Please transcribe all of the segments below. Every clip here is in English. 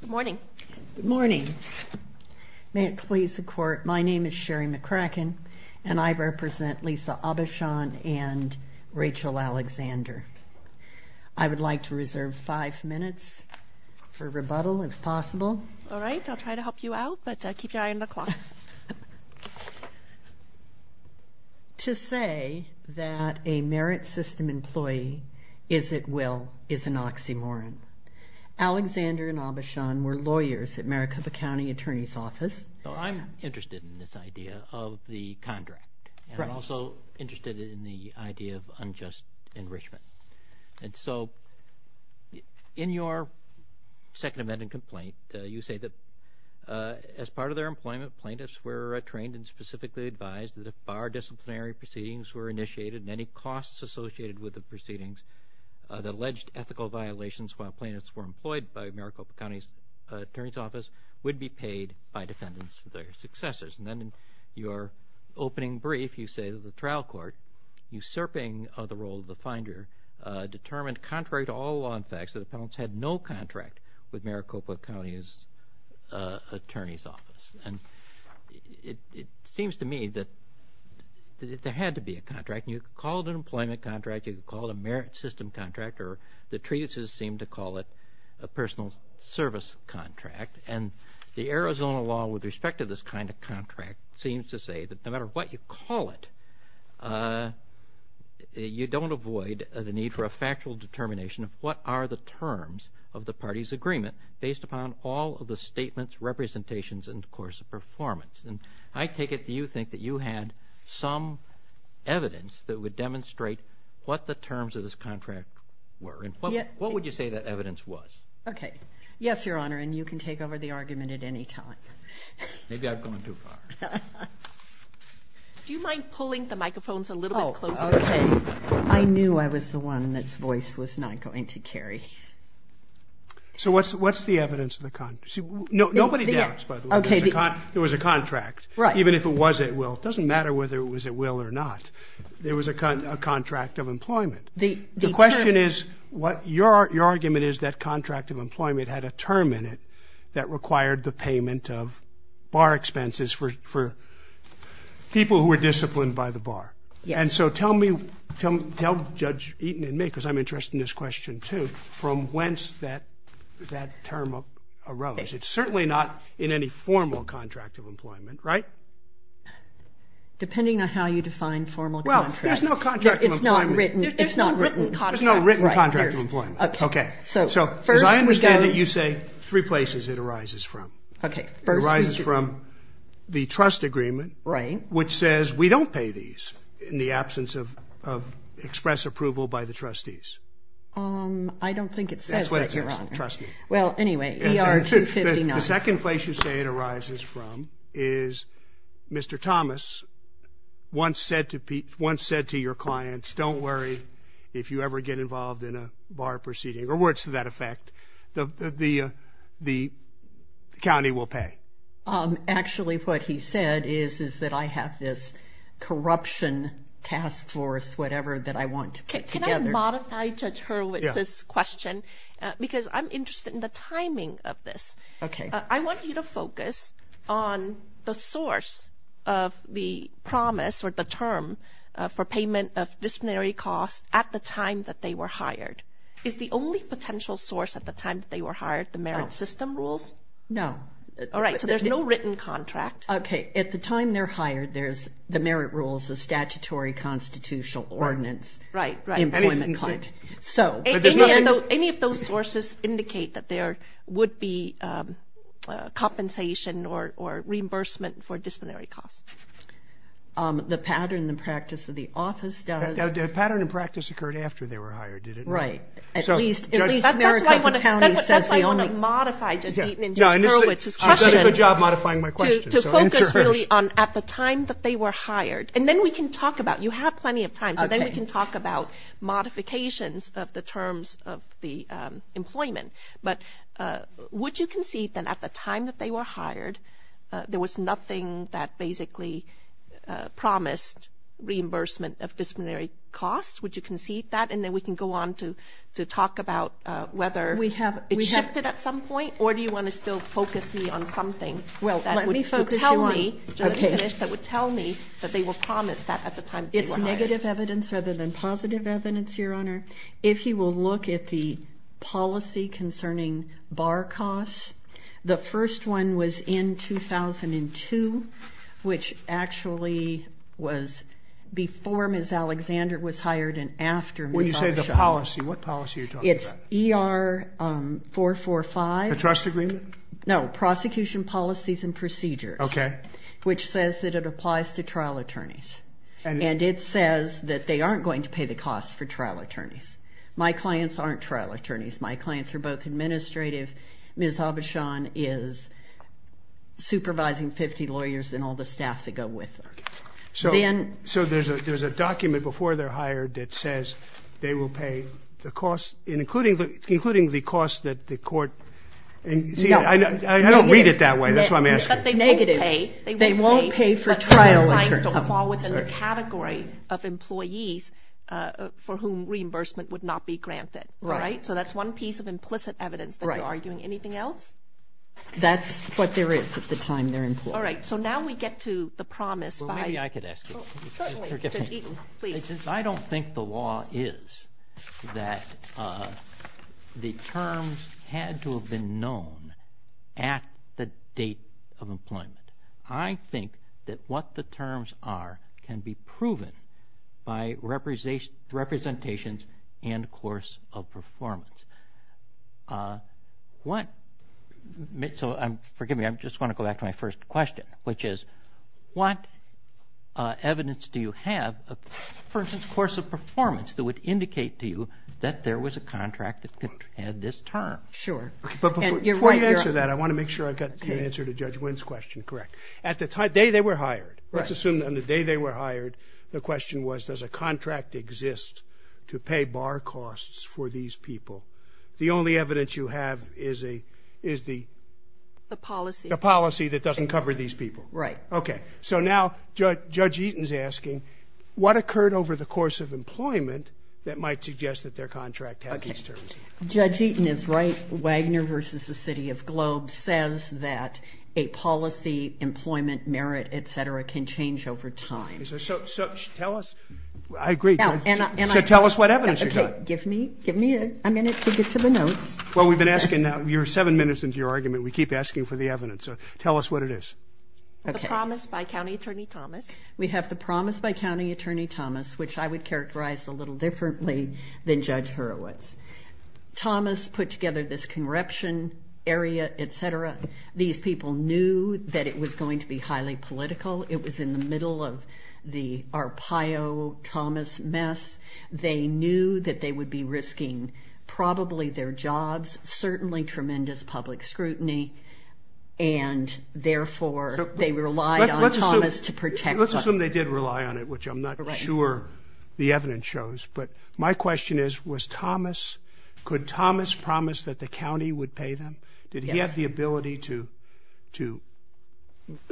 Good morning. Good morning. May it please the court, my name is Sherry McCracken and I represent Lisa Aubuchon and Rachel Alexander. I would like to reserve five minutes for rebuttal if possible. All right, I'll try to help you out, but keep your eye on the clock. To say that a merit system employee is at will is an oxymoron. Alexander and Aubuchon were lawyers at Maricopa County Attorney's Office. I'm interested in this idea of the contract and I'm also interested in the idea of unjust enrichment. And so in your second amendment complaint, you say that as part of their employment, plaintiffs were trained and specifically advised that if bar disciplinary proceedings were initiated and any costs associated with the proceedings that alleged ethical violations while plaintiffs were employed by Maricopa County Attorney's Office would be paid by defendants to their successors and then in your opening brief, you say that the trial court, usurping the role of the finder, determined contrary to all law and facts that the penalts had no contract with Maricopa County Attorney's Office. And it seems to me that there had to be a contract and you could call it an employment contract, you could call it a merit system contract or the treatises seem to call it a personal service contract and the Arizona law with respect to this kind of contract seems to say that no matter what you call it, you don't avoid the need for a factual determination of what are the terms of the party's agreement based upon all of the statements, representations and of course the performance. And I take it that you think that you had some evidence that would demonstrate what the terms of this contract were and what would you say that evidence was? Okay. Yes, Your Honor, and you can take over the argument at any time. Maybe I've gone too far. Do you mind pulling the microphones a little bit closer? Oh, okay. I knew I was the one that's voice was not going to carry. So what's the evidence of the contract? Nobody doubts, by the way, there was a contract, even if it was at will, it doesn't matter whether it was at will or not, there was a contract of employment. The question is, your argument is that contract of employment had a term in it that required the payment of bar expenses for people who were disciplined by the bar. And so tell me, tell Judge Eaton and me, because I'm interested in this question too, from whence that term arose. It's certainly not in any formal contract of employment, right? Depending on how you define formal contract. Well, there's no contract of employment. It's not written. There's no written contract. There's no written contract of employment. Okay. So, as I understand it, you say three places it arises from. Okay. It arises from the trust agreement, which says we don't pay these in the absence of express approval by the trustees. I don't think it says that, Your Honor. That's what it says. Trust me. Well, anyway, ER 259. The second place you say it arises from is Mr. Thomas once said to your clients, don't worry, if you ever get involved in a bar proceeding, or words to that effect, the county will pay. Actually, what he said is that I have this corruption task force, whatever, that I want to put together. Can I modify Judge Hurwitz's question, because I'm interested in the timing of this. Okay. I want you to focus on the source of the promise, or the term, for payment of disciplinary costs at the time that they were hired. Is the only potential source at the time that they were hired the merit system rules? No. All right. So, there's no written contract. Okay. At the time they're hired, there's the merit rules, the statutory constitutional ordinance. Right. Right. Employment claim. Any of those sources indicate that there would be compensation or reimbursement for disciplinary costs? The pattern and practice of the office does. The pattern and practice occurred after they were hired, did it not? Right. At least, at least Maricopa County says the only. That's why I want to modify Judge Eaton and Judge Hurwitz's question. She's done a good job modifying my question, so answer hers. To focus really on at the time that they were hired. And then we can talk about, you have plenty of time, so then we can talk about modifications of the terms of the employment. But would you concede that at the time that they were hired, there was nothing that basically promised reimbursement of disciplinary costs? Would you concede that? And then we can go on to talk about whether it shifted at some point? Or do you want to still focus me on something that would tell me, that would tell me that they were promised that at the time that they were hired? It's negative evidence rather than positive evidence, Your Honor. If you will look at the policy concerning bar costs, the first one was in 2002, which actually was before Ms. Alexander was hired and after Ms. Alexander was hired. When you say the policy, what policy are you talking about? It's ER 445. The trust agreement? No, prosecution policies and procedures. Okay. Which says that it applies to trial attorneys. And it says that they aren't going to pay the costs for trial attorneys. My clients aren't trial attorneys. My clients are both administrative. Ms. Abishan is supervising 50 lawyers and all the staff that go with them. So there's a document before they're hired that says they will pay the costs, including the costs that the court... No. I don't read it that way. That's why I'm asking. But they will pay. They won't pay for trial attorneys. My clients don't fall within the category of employees for whom reimbursement would not be granted. Right. So that's one piece of implicit evidence that you're arguing. Anything else? That's what there is at the time they're employed. All right. So now we get to the promise by... Well, maybe I could ask you. Certainly. Please. I don't think the law is that the terms had to have been known at the date of employment. I think that what the terms are can be proven by representations and course of performance. So forgive me. I just want to go back to my first question, which is what evidence do you have, for instance, course of performance that would indicate to you that there was a contract that had this term? Sure. But before you answer that, I want to make sure I've got your answer to Judge Wynn's question correct. At the time... The day they were hired. Right. Let's assume that on the day they were hired, the question was, does a contract exist to pay bar costs for these people? The only evidence you have is the... The policy. The policy that doesn't cover these people. Right. Okay. So now Judge Eaton's asking, what occurred over the course of employment that might suggest that their contract had these terms? Okay. Judge Eaton is right. Wagner v. The City of Globe says that a policy, employment, merit, et cetera, can change over time. So tell us... I agree. So tell us what evidence you've got. Okay. Give me a minute to get to the notes. Well, we've been asking now. You're seven minutes into your argument. We keep asking for the evidence. So tell us what it is. Okay. The promise by County Attorney Thomas. We have the promise by County Attorney Thomas, which I would characterize a little differently than Judge Hurwitz. Thomas put together this corruption area, et cetera. These people knew that it was going to be highly political. It was in the middle of the Arpaio-Thomas mess. They knew that they would be risking probably their jobs, certainly tremendous public scrutiny. And therefore, they relied on Thomas to protect... Let's assume they did rely on it, which I'm not sure the evidence shows. But my question is, was Thomas... Could Thomas promise that the county would pay them? Yes. Did he have the ability to...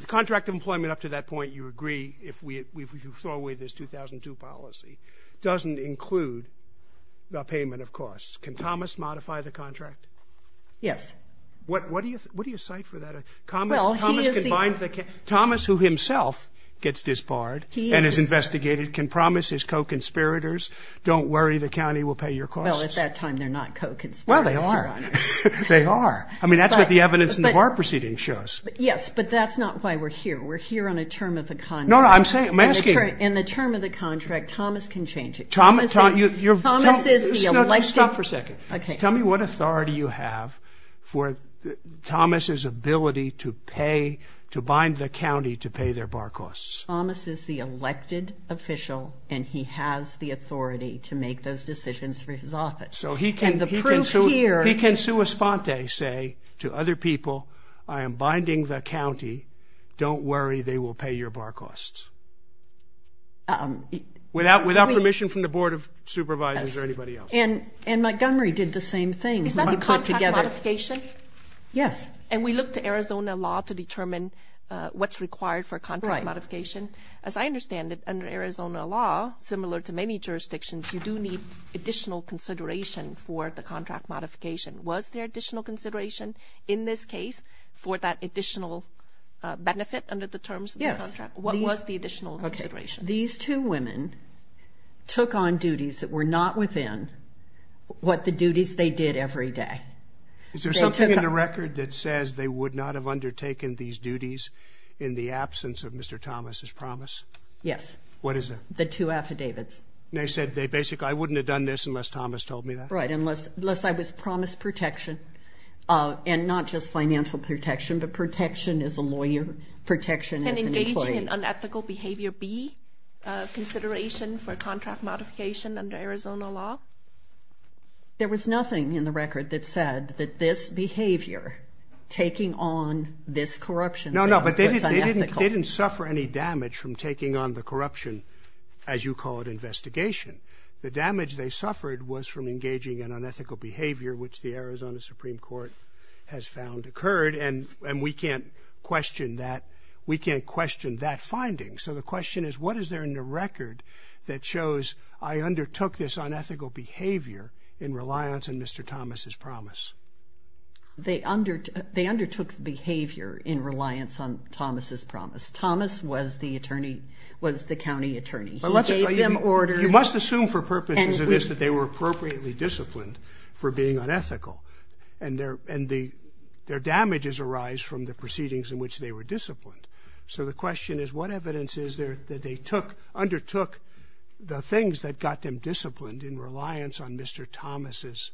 Contract employment up to that point, you agree, if we throw away this 2002 policy, doesn't include the payment of costs. Can Thomas modify the contract? Yes. What do you cite for that? Well, he is the... Thomas, who himself gets disbarred and is investigated, can promise his co-conspirators don't worry, the county will pay your costs. Well, at that time, they're not co-conspirators, Your Honor. Well, they are. They are. I mean, that's what the evidence in the bar proceeding shows. Yes, but that's not why we're here. We're here on a term of the contract. No, no, I'm saying... I'm asking... In the term of the contract, Thomas can change it. Thomas is... Thomas is the elected... No, just stop for a second. Okay. Tell me what authority you have for Thomas' ability to pay, to bind the county to pay their bar costs. Thomas is the elected official, and he has the authority to make those decisions for his office. So he can... And the proof here... He can sua sponte, say to other people, I am binding the county, don't worry, they will pay your bar costs. Without permission from the Board of Supervisors or anybody else. And Montgomery did the same thing. Is that a contract modification? Yes. And we look to Arizona law to determine what's required for a contract modification. As I understand it, under Arizona law, similar to many jurisdictions, you do need additional consideration for the contract modification. Was there additional consideration in this case for that additional benefit under the terms of the contract? Yes. What was the additional consideration? These two women took on duties that were not within what the duties they did every day. Is there something in the record that says they would not have undertaken these duties in the absence of Mr. Thomas' promise? Yes. What is it? The two affidavits. They said they basically, I wouldn't have done this unless Thomas told me that? Right, unless I was promised protection. And not just financial protection, but protection as a lawyer, protection as an employee. And engaging in unethical behavior B, consideration for contract modification under Arizona law? There was nothing in the record that said that this behavior, taking on this corruption, was unethical. No, no, but they didn't suffer any damage from taking on the corruption, as you call it, investigation. The damage they suffered was from engaging in unethical behavior, which the Arizona Supreme Court has found occurred. And we can't question that. We can't question that finding. So the question is, what is there in the record that shows I undertook this unethical behavior in reliance on Mr. Thomas' promise? They undertook behavior in reliance on Thomas' promise. Thomas was the attorney, was the county attorney. He gave them orders. You must assume for purposes of this that they were appropriately disciplined for being unethical. And their damages arise from the proceedings in which they were disciplined. So the question is, what evidence is there that they undertook the things that got them disciplined in reliance on Mr. Thomas'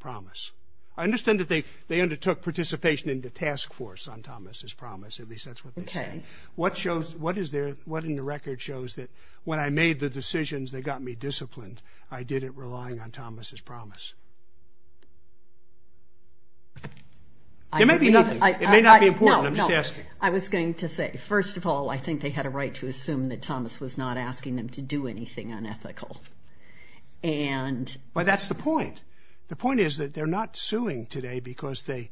promise? I understand that they undertook participation in the task force on Thomas' promise, at least that's what they say. What in the record shows that when I made the decisions that got me disciplined, I did it relying on Thomas' promise? It may be nothing. It may not be important. I'm just asking. I was going to say, first of all, I think they had a right to assume that Thomas was not asking them to do anything unethical. But that's the point. The point is that they're not suing today because they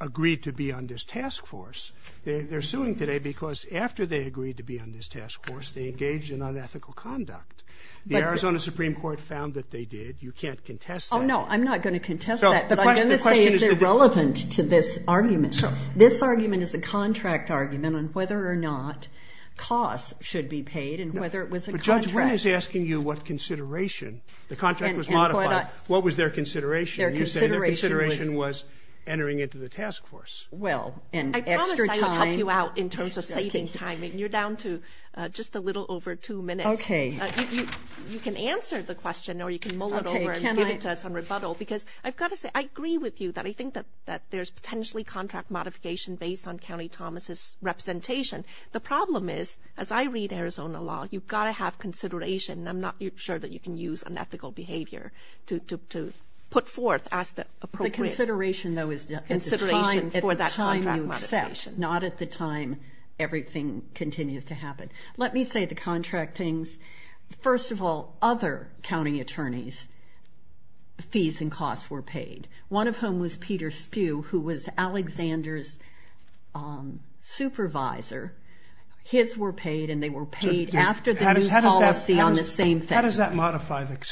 agreed to be on this task force. They're suing today because after they agreed to be on this task force, they engaged in unethical conduct. The Arizona Supreme Court found that they did. You can't contest that. Oh, no. I'm not going to contest that. But I'm going to say it's irrelevant to this argument. This argument is a contract argument on whether or not costs should be paid and whether it was a contract. But Judge Wynn is asking you what consideration. The contract was modified. What was their consideration? Their consideration was entering into the task force. I promised I would help you out in terms of saving time and you're down to just a little over two minutes. You can answer the question or you can mull it over and give it to us on rebuttal. Because I've got to say, I agree with you that I think that there's potentially contract modification based on County Thomas's representation. The problem is, as I read Arizona law, you've got to have consideration. I'm not sure that you can use unethical behavior to put forth as the appropriate. The consideration, though, is at the time you accept. Not at the time everything continues to happen. Let me say the contract things. First of all, other county attorneys' fees and costs were paid. One of whom was Peter Spew, who was Alexander's supervisor. His were paid and they were paid after the new policy on the same thing. How does that modify it?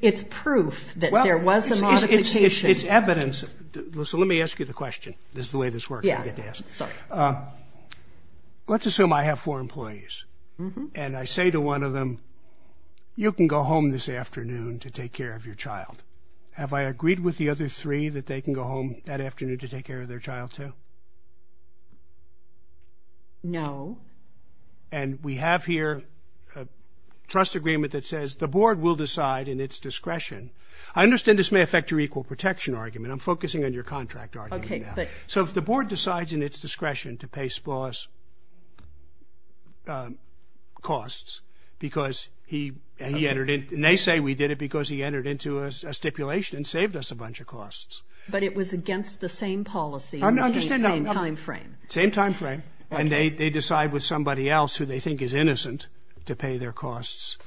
It's proof that there was a modification. It's evidence. So let me ask you the question. This is the way this works. I get to ask. Let's assume I have four employees. And I say to one of them, you can go home this afternoon to take care of your child. Have I agreed with the other three that they can go home that afternoon to take care of their child, too? No. And we have here a trust agreement that says the board will decide in its discretion. I understand this may affect your equal protection argument. I'm focusing on your contract argument. So if the board decides in its discretion to pay Spaws costs because he entered in. And they say we did it because he entered into a stipulation and saved us a bunch of costs. But it was against the same policy in the same time frame. Same time frame. And they decide with somebody else who they think is innocent to pay their costs.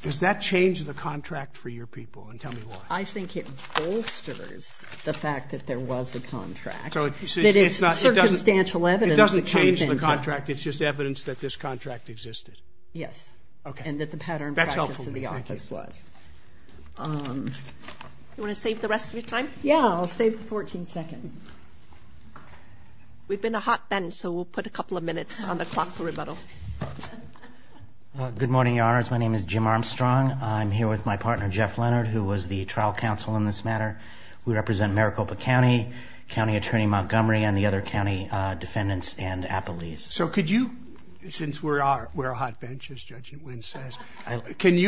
Does that change the contract for your people? And tell me why. I think it bolsters the fact that there was a contract. That it's circumstantial evidence. It doesn't change the contract. It's just evidence that this contract existed. Yes. Okay. And that the pattern practice of the office was. That's helpful. Thank you. You want to save the rest of your time? Yeah, I'll save the 14 seconds. We've been a hot bench, so we'll put a couple of minutes on the clock for rebuttal. Good morning, Your Honors. My name is Jim Armstrong. I'm here with my partner, Jeff Leonard, who was the trial counsel in this matter. We represent Maricopa County, County Attorney Montgomery, and the other county defendants and appellees. So could you, since we're a hot bench, as Judge Nguyen says, can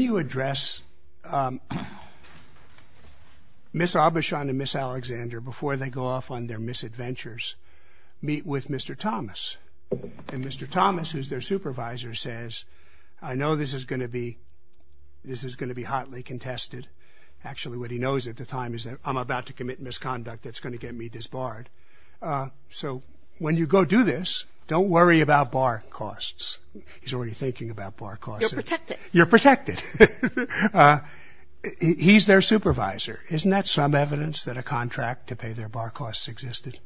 you address Miss Aubuchon and Miss Alexander before they go off on their misadventures, meet with Mr. Thomas? And Mr. Thomas, who's their supervisor, says, I know this is going to be hotly contested. Actually, what he knows at the time is that I'm about to commit misconduct that's going to get me disbarred. So when you go do this, don't worry about bar costs. He's already thinking about bar costs. You're protected. You're protected. He's their supervisor. Isn't that some evidence that a contract to pay their bar costs existed?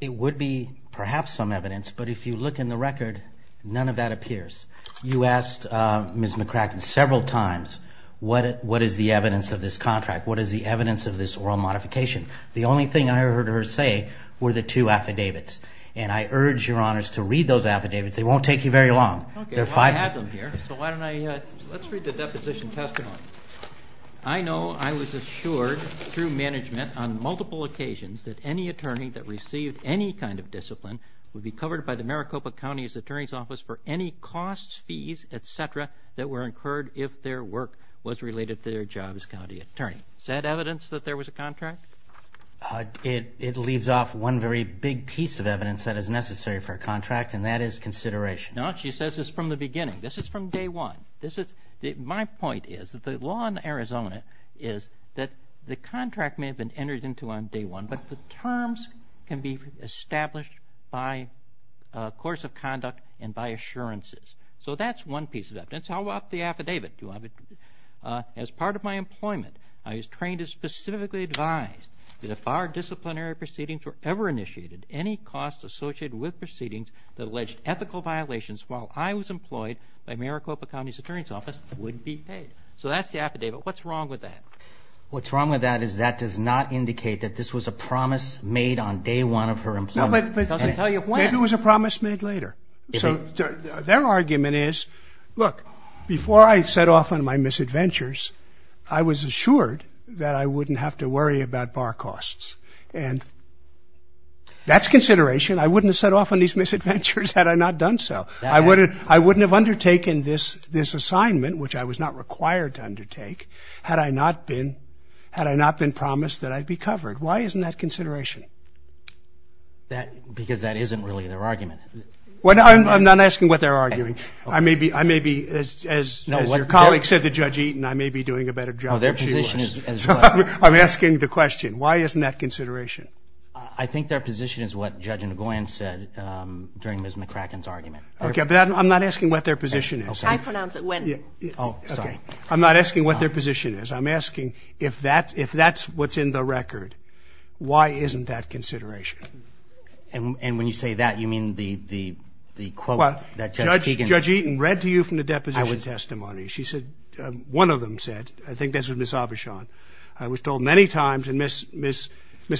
It would be perhaps some evidence, but if you look in the record, none of that appears. You asked Miss McCracken several times, what is the evidence of this contract? What is the evidence of this oral modification? The only thing I heard her say were the two affidavits. And I urge Your Honors to read those affidavits. They won't take you very long. Okay, well, I have them here. So why don't I, let's read the deposition testimony. I know I was assured through management on multiple occasions that any attorney that received any kind of discipline would be covered by the Maricopa County's Attorney's Office for any costs, fees, etc. that were incurred if their work was related to their job as county attorney. Is that evidence that there was a contract? It leaves off one very big piece of evidence that is necessary for a contract, and that is consideration. No, she says this from the beginning. This is from day one. My point is that the law in Arizona is that the contract may have been entered into on day one, but the terms can be established by course of conduct and by assurances. So that's one piece of evidence. How about the affidavit? As part of my employment, I was trained to specifically advise that if our disciplinary proceedings were ever initiated, any costs associated with proceedings that alleged ethical violations while I was employed by Maricopa County's Attorney's Office would be paid. So that's the affidavit. What's wrong with that? What's wrong with that is that does not indicate that this was a promise made on day one of her employment. Maybe it was a promise made later. Their argument is, look, before I set off on my misadventures, I was assured that I wouldn't have to worry about bar costs. And that's consideration. I wouldn't have set off on these misadventures had I not done so. I wouldn't have undertaken this assignment, which I was not required to undertake, had I not been promised that I'd be covered. Why isn't that consideration? Because that isn't really their argument. I'm not asking what they're arguing. I may be, as your colleague said to Judge Eaton, I may be doing a better job than she was. I'm asking the question. Why isn't that consideration? I think their position is what Judge Nguyen said during Ms. McCracken's argument. I'm not asking what their position is. I pronounce it Nguyen. I'm not asking what their position is. I'm asking if that's what's in the record, why isn't that consideration? And when you say that, you mean the quote that Judge Eaton said? Judge Eaton read to you from the deposition testimony. She said, one of them said, I think this was Ms. Aubuchon, I was told many times, and Ms.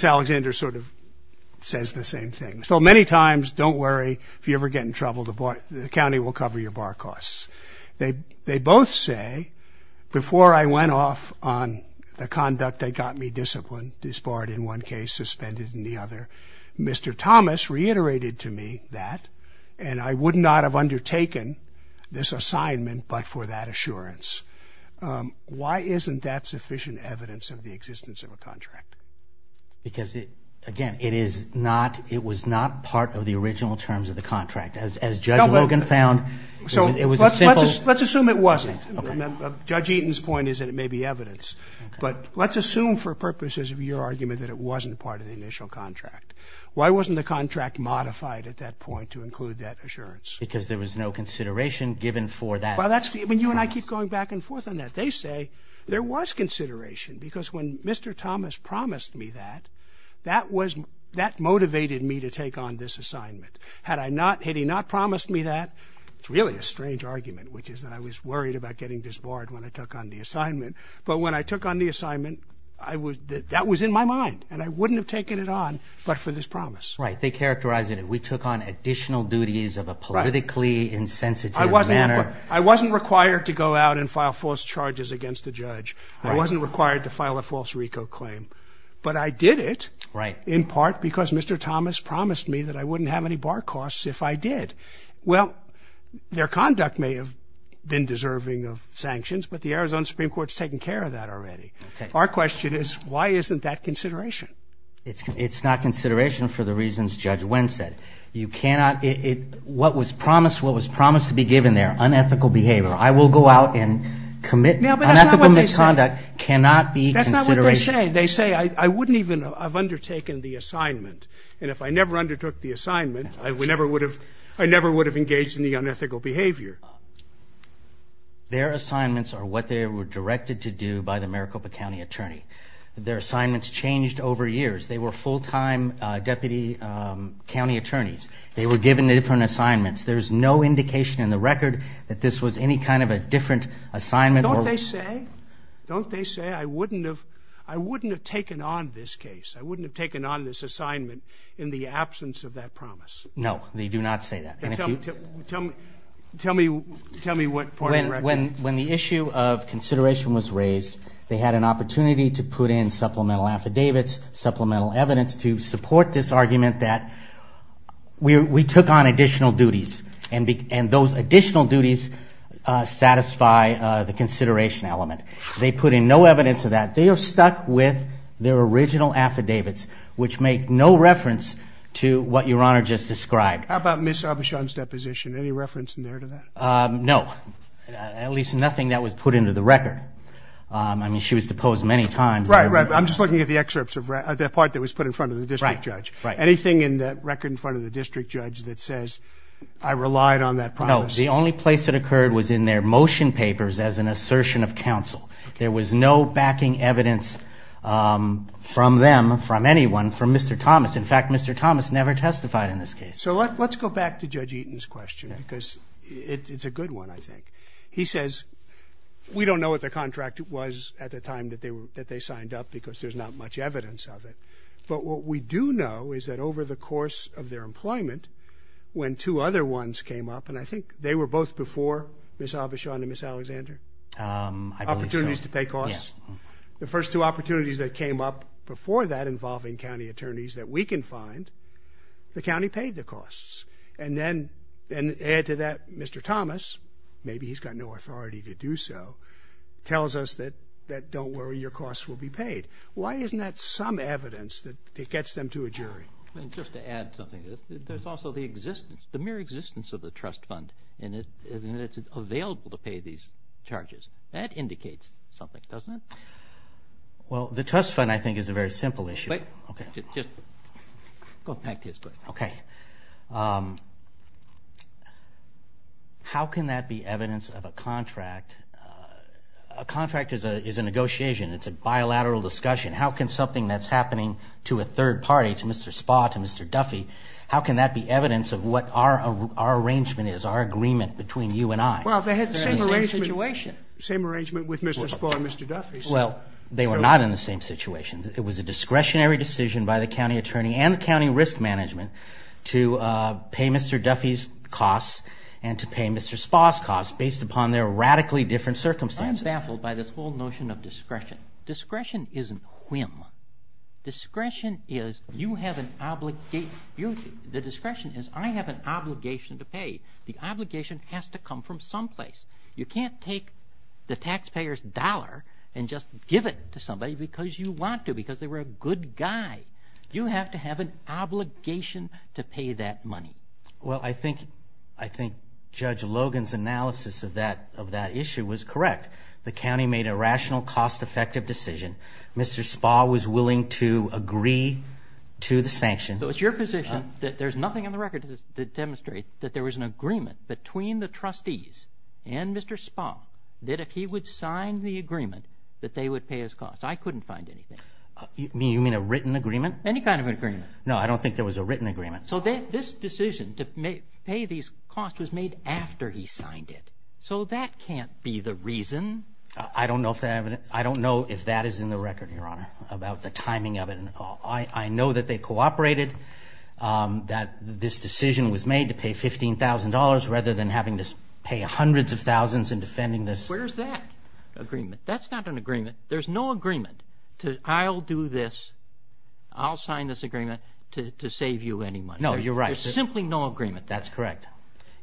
Alexander sort of says the same thing, I was told many times, don't worry, if you ever get in trouble, the county will cover your bar costs. They both say, before I went off on the conduct that got me disciplined, disbarred in one case, suspended in the other, Mr. Thomas reiterated to me that, and I would not have undertaken this assignment but for that assurance. Why isn't that sufficient evidence of the existence of a contract? Because, again, it is not, it was not part of the original terms of the contract. As Judge Logan found, it was a simple... Let's assume it wasn't. Judge Eaton's point is that it may be evidence. But let's assume for purposes of your argument that it wasn't part of the initial contract. Why wasn't the contract modified at that point to include that assurance? Because there was no consideration given for that... You and I keep going back and forth on that. They say there was consideration because when Mr. Thomas promised me that, that motivated me to take on this assignment. Had he not promised me that, it's really a strange argument, which is that I was worried about getting disbarred when I took on the assignment. But when I took on the assignment, that was in my mind. And I wouldn't have taken it on but for this promise. Right, they characterize it, we took on additional duties of a politically insensitive manner. I wasn't required to go out and file false charges against a judge. I wasn't required to file a false RICO claim. But I did it in part because Mr. Thomas promised me that I wouldn't have any bar costs if I did. Well, their conduct may have been deserving of sanctions, but the Arizona Supreme Court's taken care of that already. Our question is, why isn't that consideration? It's not consideration for the reasons Judge Wendt said. You cannot... What was promised, what was promised to be given there, unethical behavior, I will go out and commit unethical misconduct, cannot be consideration. They say I wouldn't even have undertaken the assignment. And if I never undertook the assignment, I never would have engaged in the unethical behavior. Their assignments are what they were directed to do by the Maricopa County Attorney. Their assignments changed over years. They were full-time deputy county attorneys. They were given different assignments. There's no indication in the record that this was any kind of a different assignment. Don't they say, don't they say, I wouldn't have taken on this case, I wouldn't have taken on this assignment in the absence of that promise? No, they do not say that. Tell me what part of the record... When the issue of consideration was raised, they had an opportunity to put in supplemental affidavits, supplemental evidence to support this argument that we took on additional duties. And those additional duties satisfy the consideration element. They put in no evidence of that. They are stuck with their original affidavits, which make no reference to what Your Honor just described. How about Ms. Aubuchon's deposition? Any reference in there to that? No. At least nothing that was put into the record. I mean, she was deposed many times. Right, right. I'm just looking at the excerpts of that part that was put in front of the district judge. Anything in the record in front of the district judge that says, I relied on that promise? No. The only place it occurred was in their motion papers as an assertion of counsel. There was no backing evidence from them, from anyone, from Mr. Thomas. In fact, Mr. Thomas never testified in this case. So let's go back to Judge Eaton's question, because it's a good one, I think. He says, we don't know what the contract was at the time that they signed up, because there's not much evidence of it. But what we do know is that over the course of their employment, when two other ones came up, and I think they were both before Ms. Avishon and Ms. Alexander? I believe so. Opportunities to pay costs? The first two opportunities that came up before that involving county attorneys that we can find, the county paid the costs. And then, add to that Mr. Thomas, maybe he's got no authority to do so, tells us that don't worry, your costs will be paid. Why isn't that some evidence that gets them to a jury? I mean, just to add something, there's also the mere existence of the trust fund, and it's available to pay these charges. That indicates something, doesn't it? Well, the trust fund, I think, is a very simple issue. Just go back to his question. Okay. How can that be evidence of a contract? A contract is a negotiation. It's a bilateral discussion. How can something that's happening to a third party, to Mr. Spa, to Mr. Duffy, how can that be evidence of what our arrangement is, our agreement between you and I? Well, they had the same arrangement. Same arrangement with Mr. Spa and Mr. Duffy. Well, they were not in the same situation. It was a discretionary decision by the county attorney and the county risk management to pay Mr. Duffy's costs and to pay Mr. Spa's costs based upon their radically different circumstances. I'm baffled by this whole notion of discretion. Discretion isn't whim. Discretion is you have an obligated duty and the discretion is I have an obligation to pay. The obligation has to come from some place. You can't take the taxpayer's dollar and just give it to somebody because you want to, because they were a good guy. You have to have an obligation to pay that money. Well, I think Judge Logan's analysis of that issue was correct. The county made a rational, cost-effective decision. So it's your position that Mr. Duffy's costs there's nothing on the record to demonstrate that there was an agreement between the trustees and Mr. Spa that if he would sign the agreement that they would pay his costs. I couldn't find anything. You mean a written agreement? Any kind of agreement. No, I don't think there was a written agreement. So this decision to pay these costs was made after he signed it. So that can't be the reason. I don't know if that is in the record, Your Honor, about the timing of it. I know that they cooperated. I know that this decision was made to pay $15,000 rather than having to pay hundreds of thousands in defending this. Where's that agreement? That's not an agreement. There's no agreement. I'll do this. I'll sign this agreement to save you any money. No, you're right. There's simply no agreement. That's correct.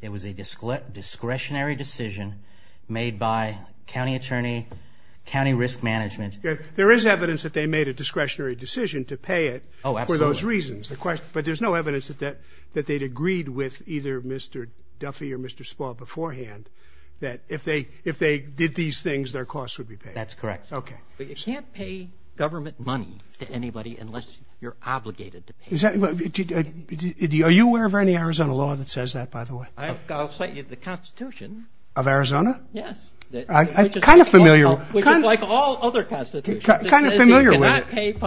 It was a discretionary decision made by county attorney, county risk management. That they'd agreed with either Mr. Duffy or Mr. Spall beforehand that if they did these things, their costs would be paid. That's correct. You can't pay government money to anybody unless you're obligated to pay. Are you aware of any Arizona law that says that, by the way? I'll cite you the Constitution. Of Arizona? Yes. Kind of familiar. Which is like all other constitutions. Kind of familiar with it.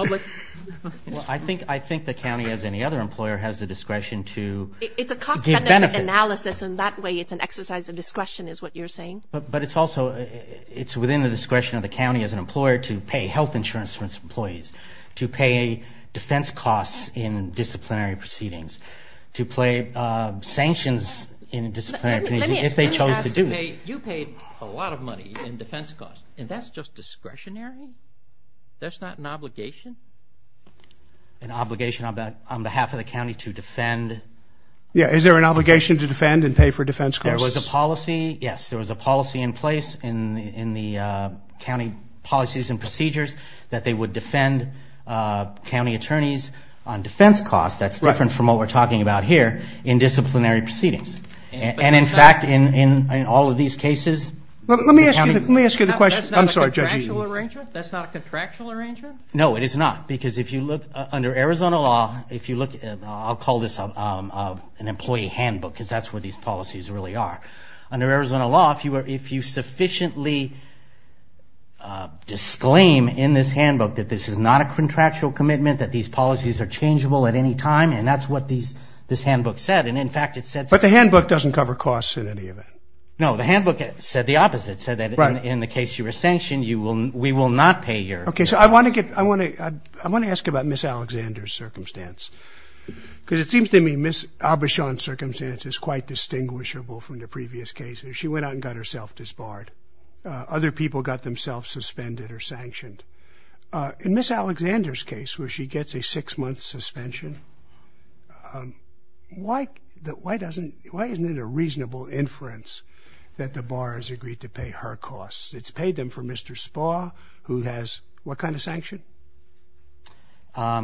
Well, I think the county as any other employer has the discretion to give benefits. It's a cost-benefit analysis. In that way, it's an exercise of discretion is what you're saying. But it's also within the discretion of the county as an employer to pay health insurance for its employees, to pay defense costs in disciplinary proceedings, to pay sanctions in disciplinary proceedings if they chose to do. Let me ask you. You paid a lot of money in defense costs. And that's just discretionary? That's not an obligation? An obligation on behalf of the county to defend. Yeah. Is there an obligation to defend and pay for defense costs? There was a policy, yes. There was a policy in place in the county policies and procedures that they would defend county attorneys on defense costs. That's different from what we're talking about here in disciplinary proceedings. And in fact, in all of these cases... Let me ask you the question. That's not a contractual arrangement? That's not a contractual arrangement? No, it is not. Because if you look under Arizona law, I'll call this an employee handbook because that's what these policies really are. Under Arizona law, if you sufficiently disclaim in this handbook that this is not a contractual commitment, that these policies are changeable at any time, and that's what this handbook said. And in fact, it said... But the handbook doesn't cover costs in any event. No, the handbook said the opposite. It said that in the case you were sanctioned, we will not pay your... Okay, so I want to ask about Ms. Alexander's circumstance because it seems to me Ms. Aubuchon's circumstance is quite distinguishable from the previous cases. She went out and got herself disbarred. Other people got themselves suspended or sanctioned. In Ms. Alexander's case, why doesn't... Why isn't it a reasonable inference that the bar has agreed to pay her costs? It's paid them for Mr. Spahr who has... What kind of sanction?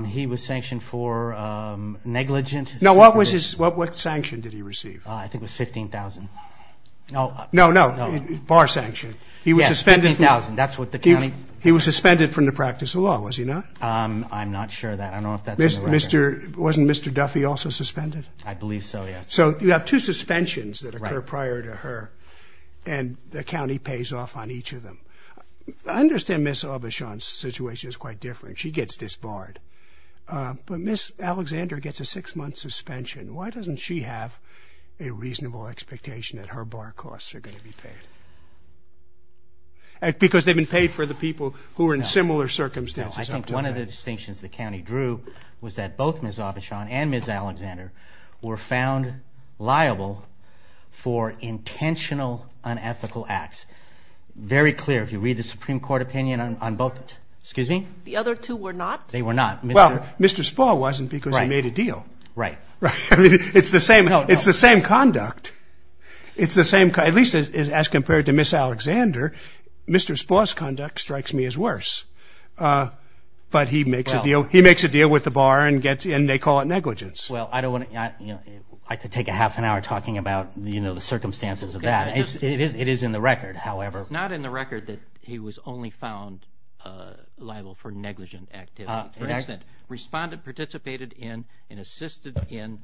He was sanctioned for negligent... No, what was his... What sanction did he receive? I think it was $15,000. No, no. Bar sanction. Yes, $15,000. He was suspended from the practice of law, was he not? I'm not sure of that. Was Mr. Duffy also suspended? I believe so, yes. So you have two suspensions that occur prior to her and the county pays off on each of them. I understand Ms. Aubuchon's situation is quite different. She gets disbarred. But Ms. Alexander gets a six-month suspension. Why doesn't she have a reasonable expectation that her bar costs are going to be paid? Because they've been paid for the people who are in similar circumstances. I think one of the distinctions the county drew was that both Ms. Aubuchon and Ms. Alexander were found liable for intentional unethical acts. Very clear. If you read the Supreme Court opinion on both. The other two were not? They were not. Well, Mr. Spahr wasn't because he made a deal. It's the same conduct. At least as compared to Ms. Alexander, Mr. Spahr's conduct but he makes a deal with the bar and they call it negligence. Well, I could take a half an hour talking about the circumstances of that. It is in the record, however. It's not in the record that he was only found liable for negligent activities. Respondent participated in and assisted in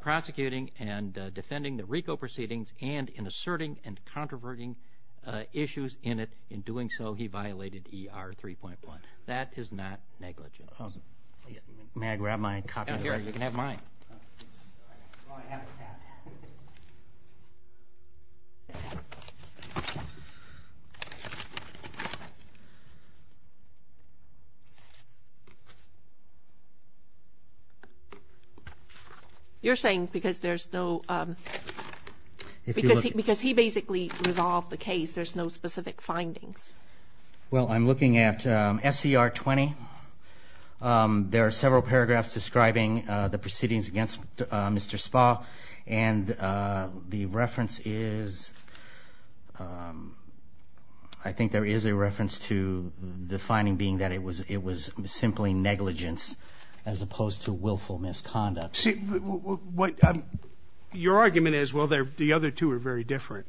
prosecuting and defending the RICO proceedings and in asserting and controverting issues in it. That is not negligence. May I grab my copy? You can have mine. You're saying because there's no because he basically resolved the case there's no specific findings. Well, I'm looking at SCR 20. There are several paragraphs describing the proceedings against Mr. Spahr and the reference is I think there is a reference to the finding being that it was simply negligence as opposed to willful misconduct. Your argument is well, the other two are very different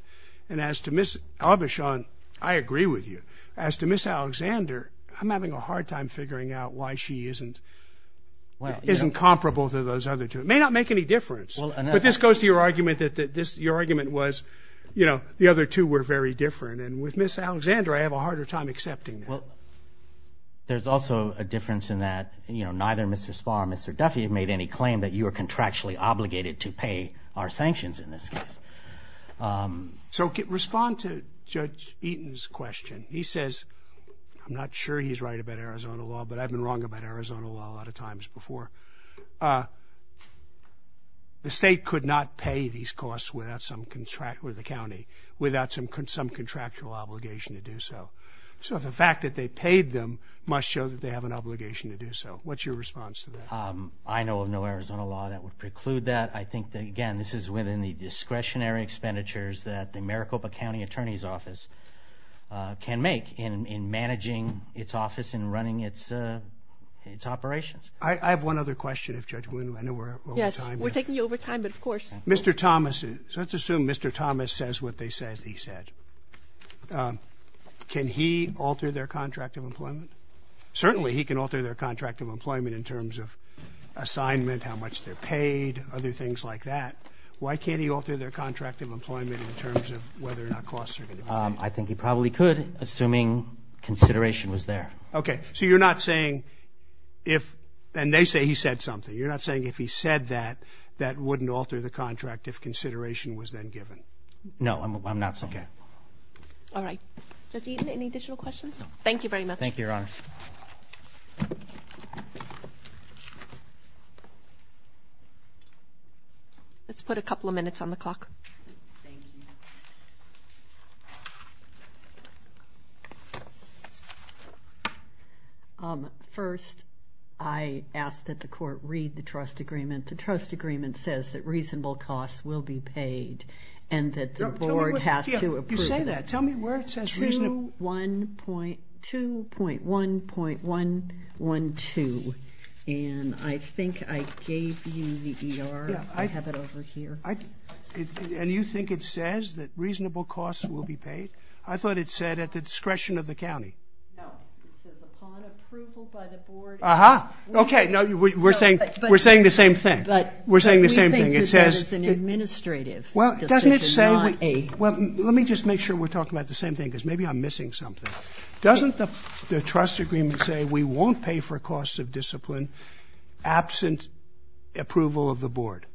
and as to Ms. Aubuchon I agree with you. As to Ms. Alexander I'm having a hard time figuring out why she isn't comparable to those other two. It may not make any difference but this goes to your argument that your argument was the other two were very different and with Ms. Alexander I have a harder time accepting that. There's also a difference in that neither Mr. Spahr nor Mr. Duffy have made any claim that you are contractually obligated to pay our sanctions in this case. So respond to Judge Eaton's question. He says I'm not sure he's right about Arizona law but I've been wrong about Arizona law a lot of times before. The state could not pay these costs without some contract with the county without some contractual obligation to do so. So the fact that they paid them must show that they have an obligation to do so. What's your response to that? I know of no Arizona law that would preclude that. I think that again this is within the discretionary expenditures that the Maricopa County Attorney's Office can make in managing its office and running its operations. I have one other question if Judge Woon I know we're over time. Yes, we're taking you over time but of course. Mr. Thomas let's assume Mr. Thomas says what they said he said. Can he alter their contract of employment? Certainly he can alter their contract of employment in terms of assignment how much they're paid other things like that. Why can't he alter their contract of employment in terms of whether or not costs are going to be paid? I think he probably could assuming consideration was there. Okay. So you're not saying if and they say he said something you're not saying if he said that that wouldn't alter the contract if consideration was then given? No, I'm not saying that. Okay. All right. Judge Eaton any additional questions? No. Thank you very much. Thank you, Your Honor. Let's put a couple of minutes on the clock. Thank you. First I ask that the court read the trust agreement. The trust agreement says that reasonable costs will be paid and that the board has to approve it. You say that. Tell me where it says 2.1.1.2 and I think I gave you the E.R. I have it over here. And you think it says that reasonable costs will be paid? I thought it said at the discretion of the county. No. It says upon approval by the board Aha. Okay. No. We're saying the same thing. We're saying the same thing. It says But we think it's an administrative decision. Well, doesn't it say Well, let me just make sure we're talking about the same thing because maybe I'm missing something. Doesn't the trust agreement say we won't pay for costs of discipline absent approval of the board?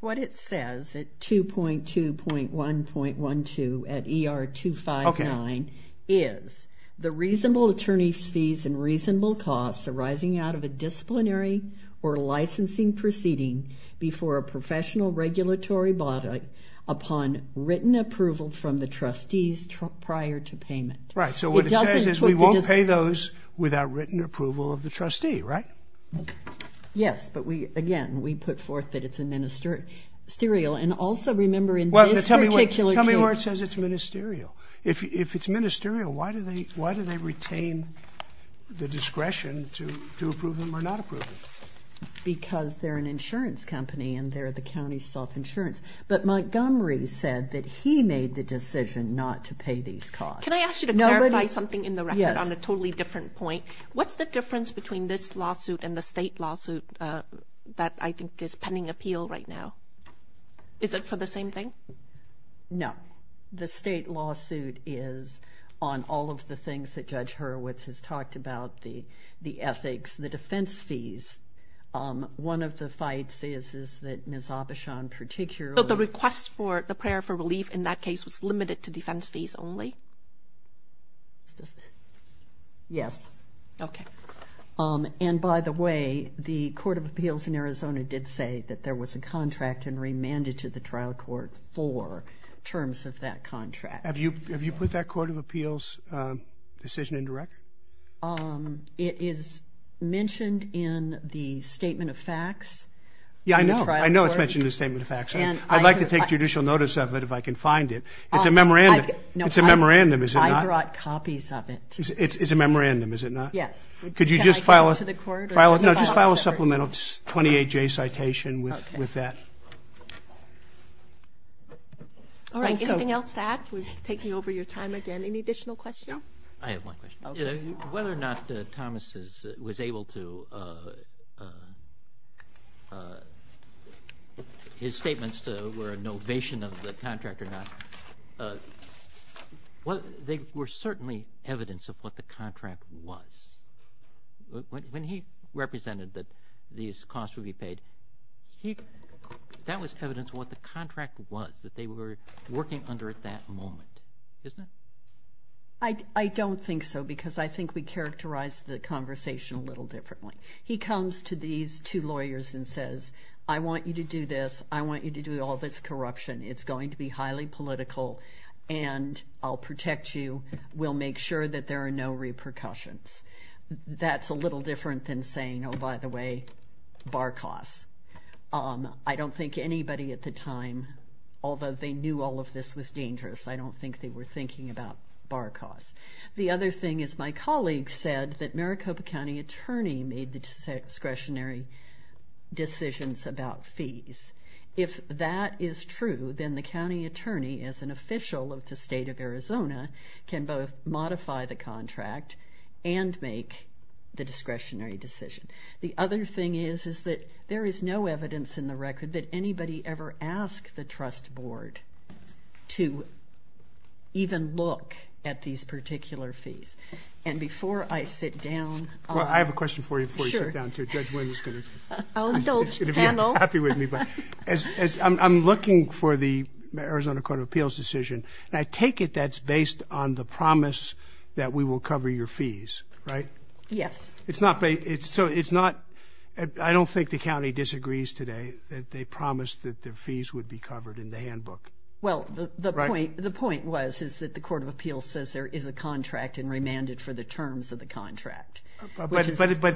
What it says at 2.2.1.1.2 at E.R. Okay. 259 is the reasonable a disciplinary or licensing proceeding before a professional regulatory body upon written approval from the trustees and the board of trustees and the board of trustees and the board of trustees prior to payment. Right. So what it says is we won't pay those without written approval of the trustee. Right? Yes. But we again we put forth that it's administerial and also remember in this particular case Tell me where it says it's ministerial. If it's ministerial why do they retain the discretion to approve them or not approve them? Because they're an insurance company and they're the county self-insurance but Montgomery said that he made the decision not to pay these costs. Can I ask you to clarify something in the record on a totally different point? What's the difference between this lawsuit and the state lawsuit that I think is pending appeal right now? Is it for the same thing? No. The state lawsuit is on all of the things that Judge Hurwitz has talked about the ethics the defense fees. One of the fights is that Ms. Abishan particularly So the request for the prayer for relief in that case was limited to defense fees only? Yes. Okay. Um and by the way the Court of Appeals in Arizona did say that there was a contract and remanded to the trial court for terms of that contract. Have you have you put that Court of Appeals decision in the record? Um it is mentioned in the statement of facts Yeah I know I know it is mentioned in the statement of facts I'd like to take judicial notice of it if I can find it it's a memorandum it's a memorandum is it not? I brought copies of it It's a memorandum is it not? Yes. Could you just file a supplemental 28J citation with that? Alright anything else to add? We're taking over your time again. Any additional questions? I have one question whether or not Thomas was able to his statements were a novation of the contract or not they were certainly evidence of what the contract was when he represented that these costs would be paid he that was evidence of what the contract was that they were working under at that moment isn't it? I don't think so because I think we characterized the conversation a little differently he comes to these two lawyers and says I want you to do this I want you to do all this corruption it's going to be highly political and I'll protect you we'll make sure that there are no repercussions that's a little different than saying oh by the way bar costs um I don't think anybody at the time although they knew all of this was dangerous I don't think they were thinking about bar costs the other thing is my colleague said that there are no discretionary decisions about fees if that is true then the county attorney as an official of the state of Arizona can both modify the contract and make the discretionary decision the other thing is that there is no evidence in the record that anybody ever asked the trust board to even look at these I don't know if Judge Wynn is going to be happy with me but I'm looking for the Arizona Court of Appeals decision and I take it that's based on the promise that we will cover your fees right yes it's not I don't think the county disagrees today that they promised that the fees would be covered in the handbook well the point the point was is that the court of appeals says there is a contract and remanded for the terms of the contract but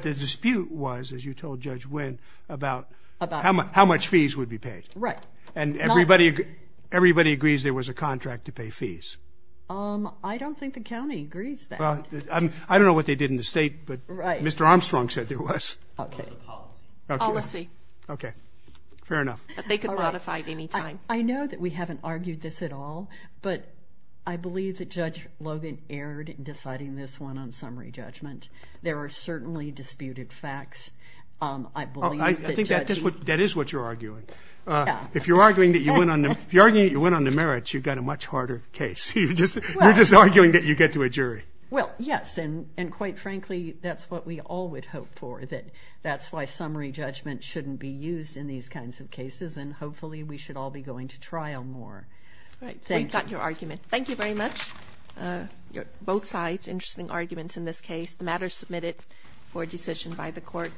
the dispute was as you told Judge Wynn about how much fees would be paid right and everybody agrees there was a contract to pay fees I don't think the county agrees that I don't know what they did in the state but Mr. Armstrong said there was policy ok fair enough they could modify it any time I know that we haven't argued this at all but I believe that Judge Logan erred in deciding this one on summary judgment there are certainly disputed facts I believe that is what you're arguing if you're arguing that you went on the merits you've got a much harder case you're just arguing that you get to a jury well yes and quite frankly that's what we all would hope for that's why summary judgment shouldn't be used in these kinds of cases and hopefully we should all be going to trial more thank you thank you very much both sides interesting arguments in this case the matter is submitted for decision by the court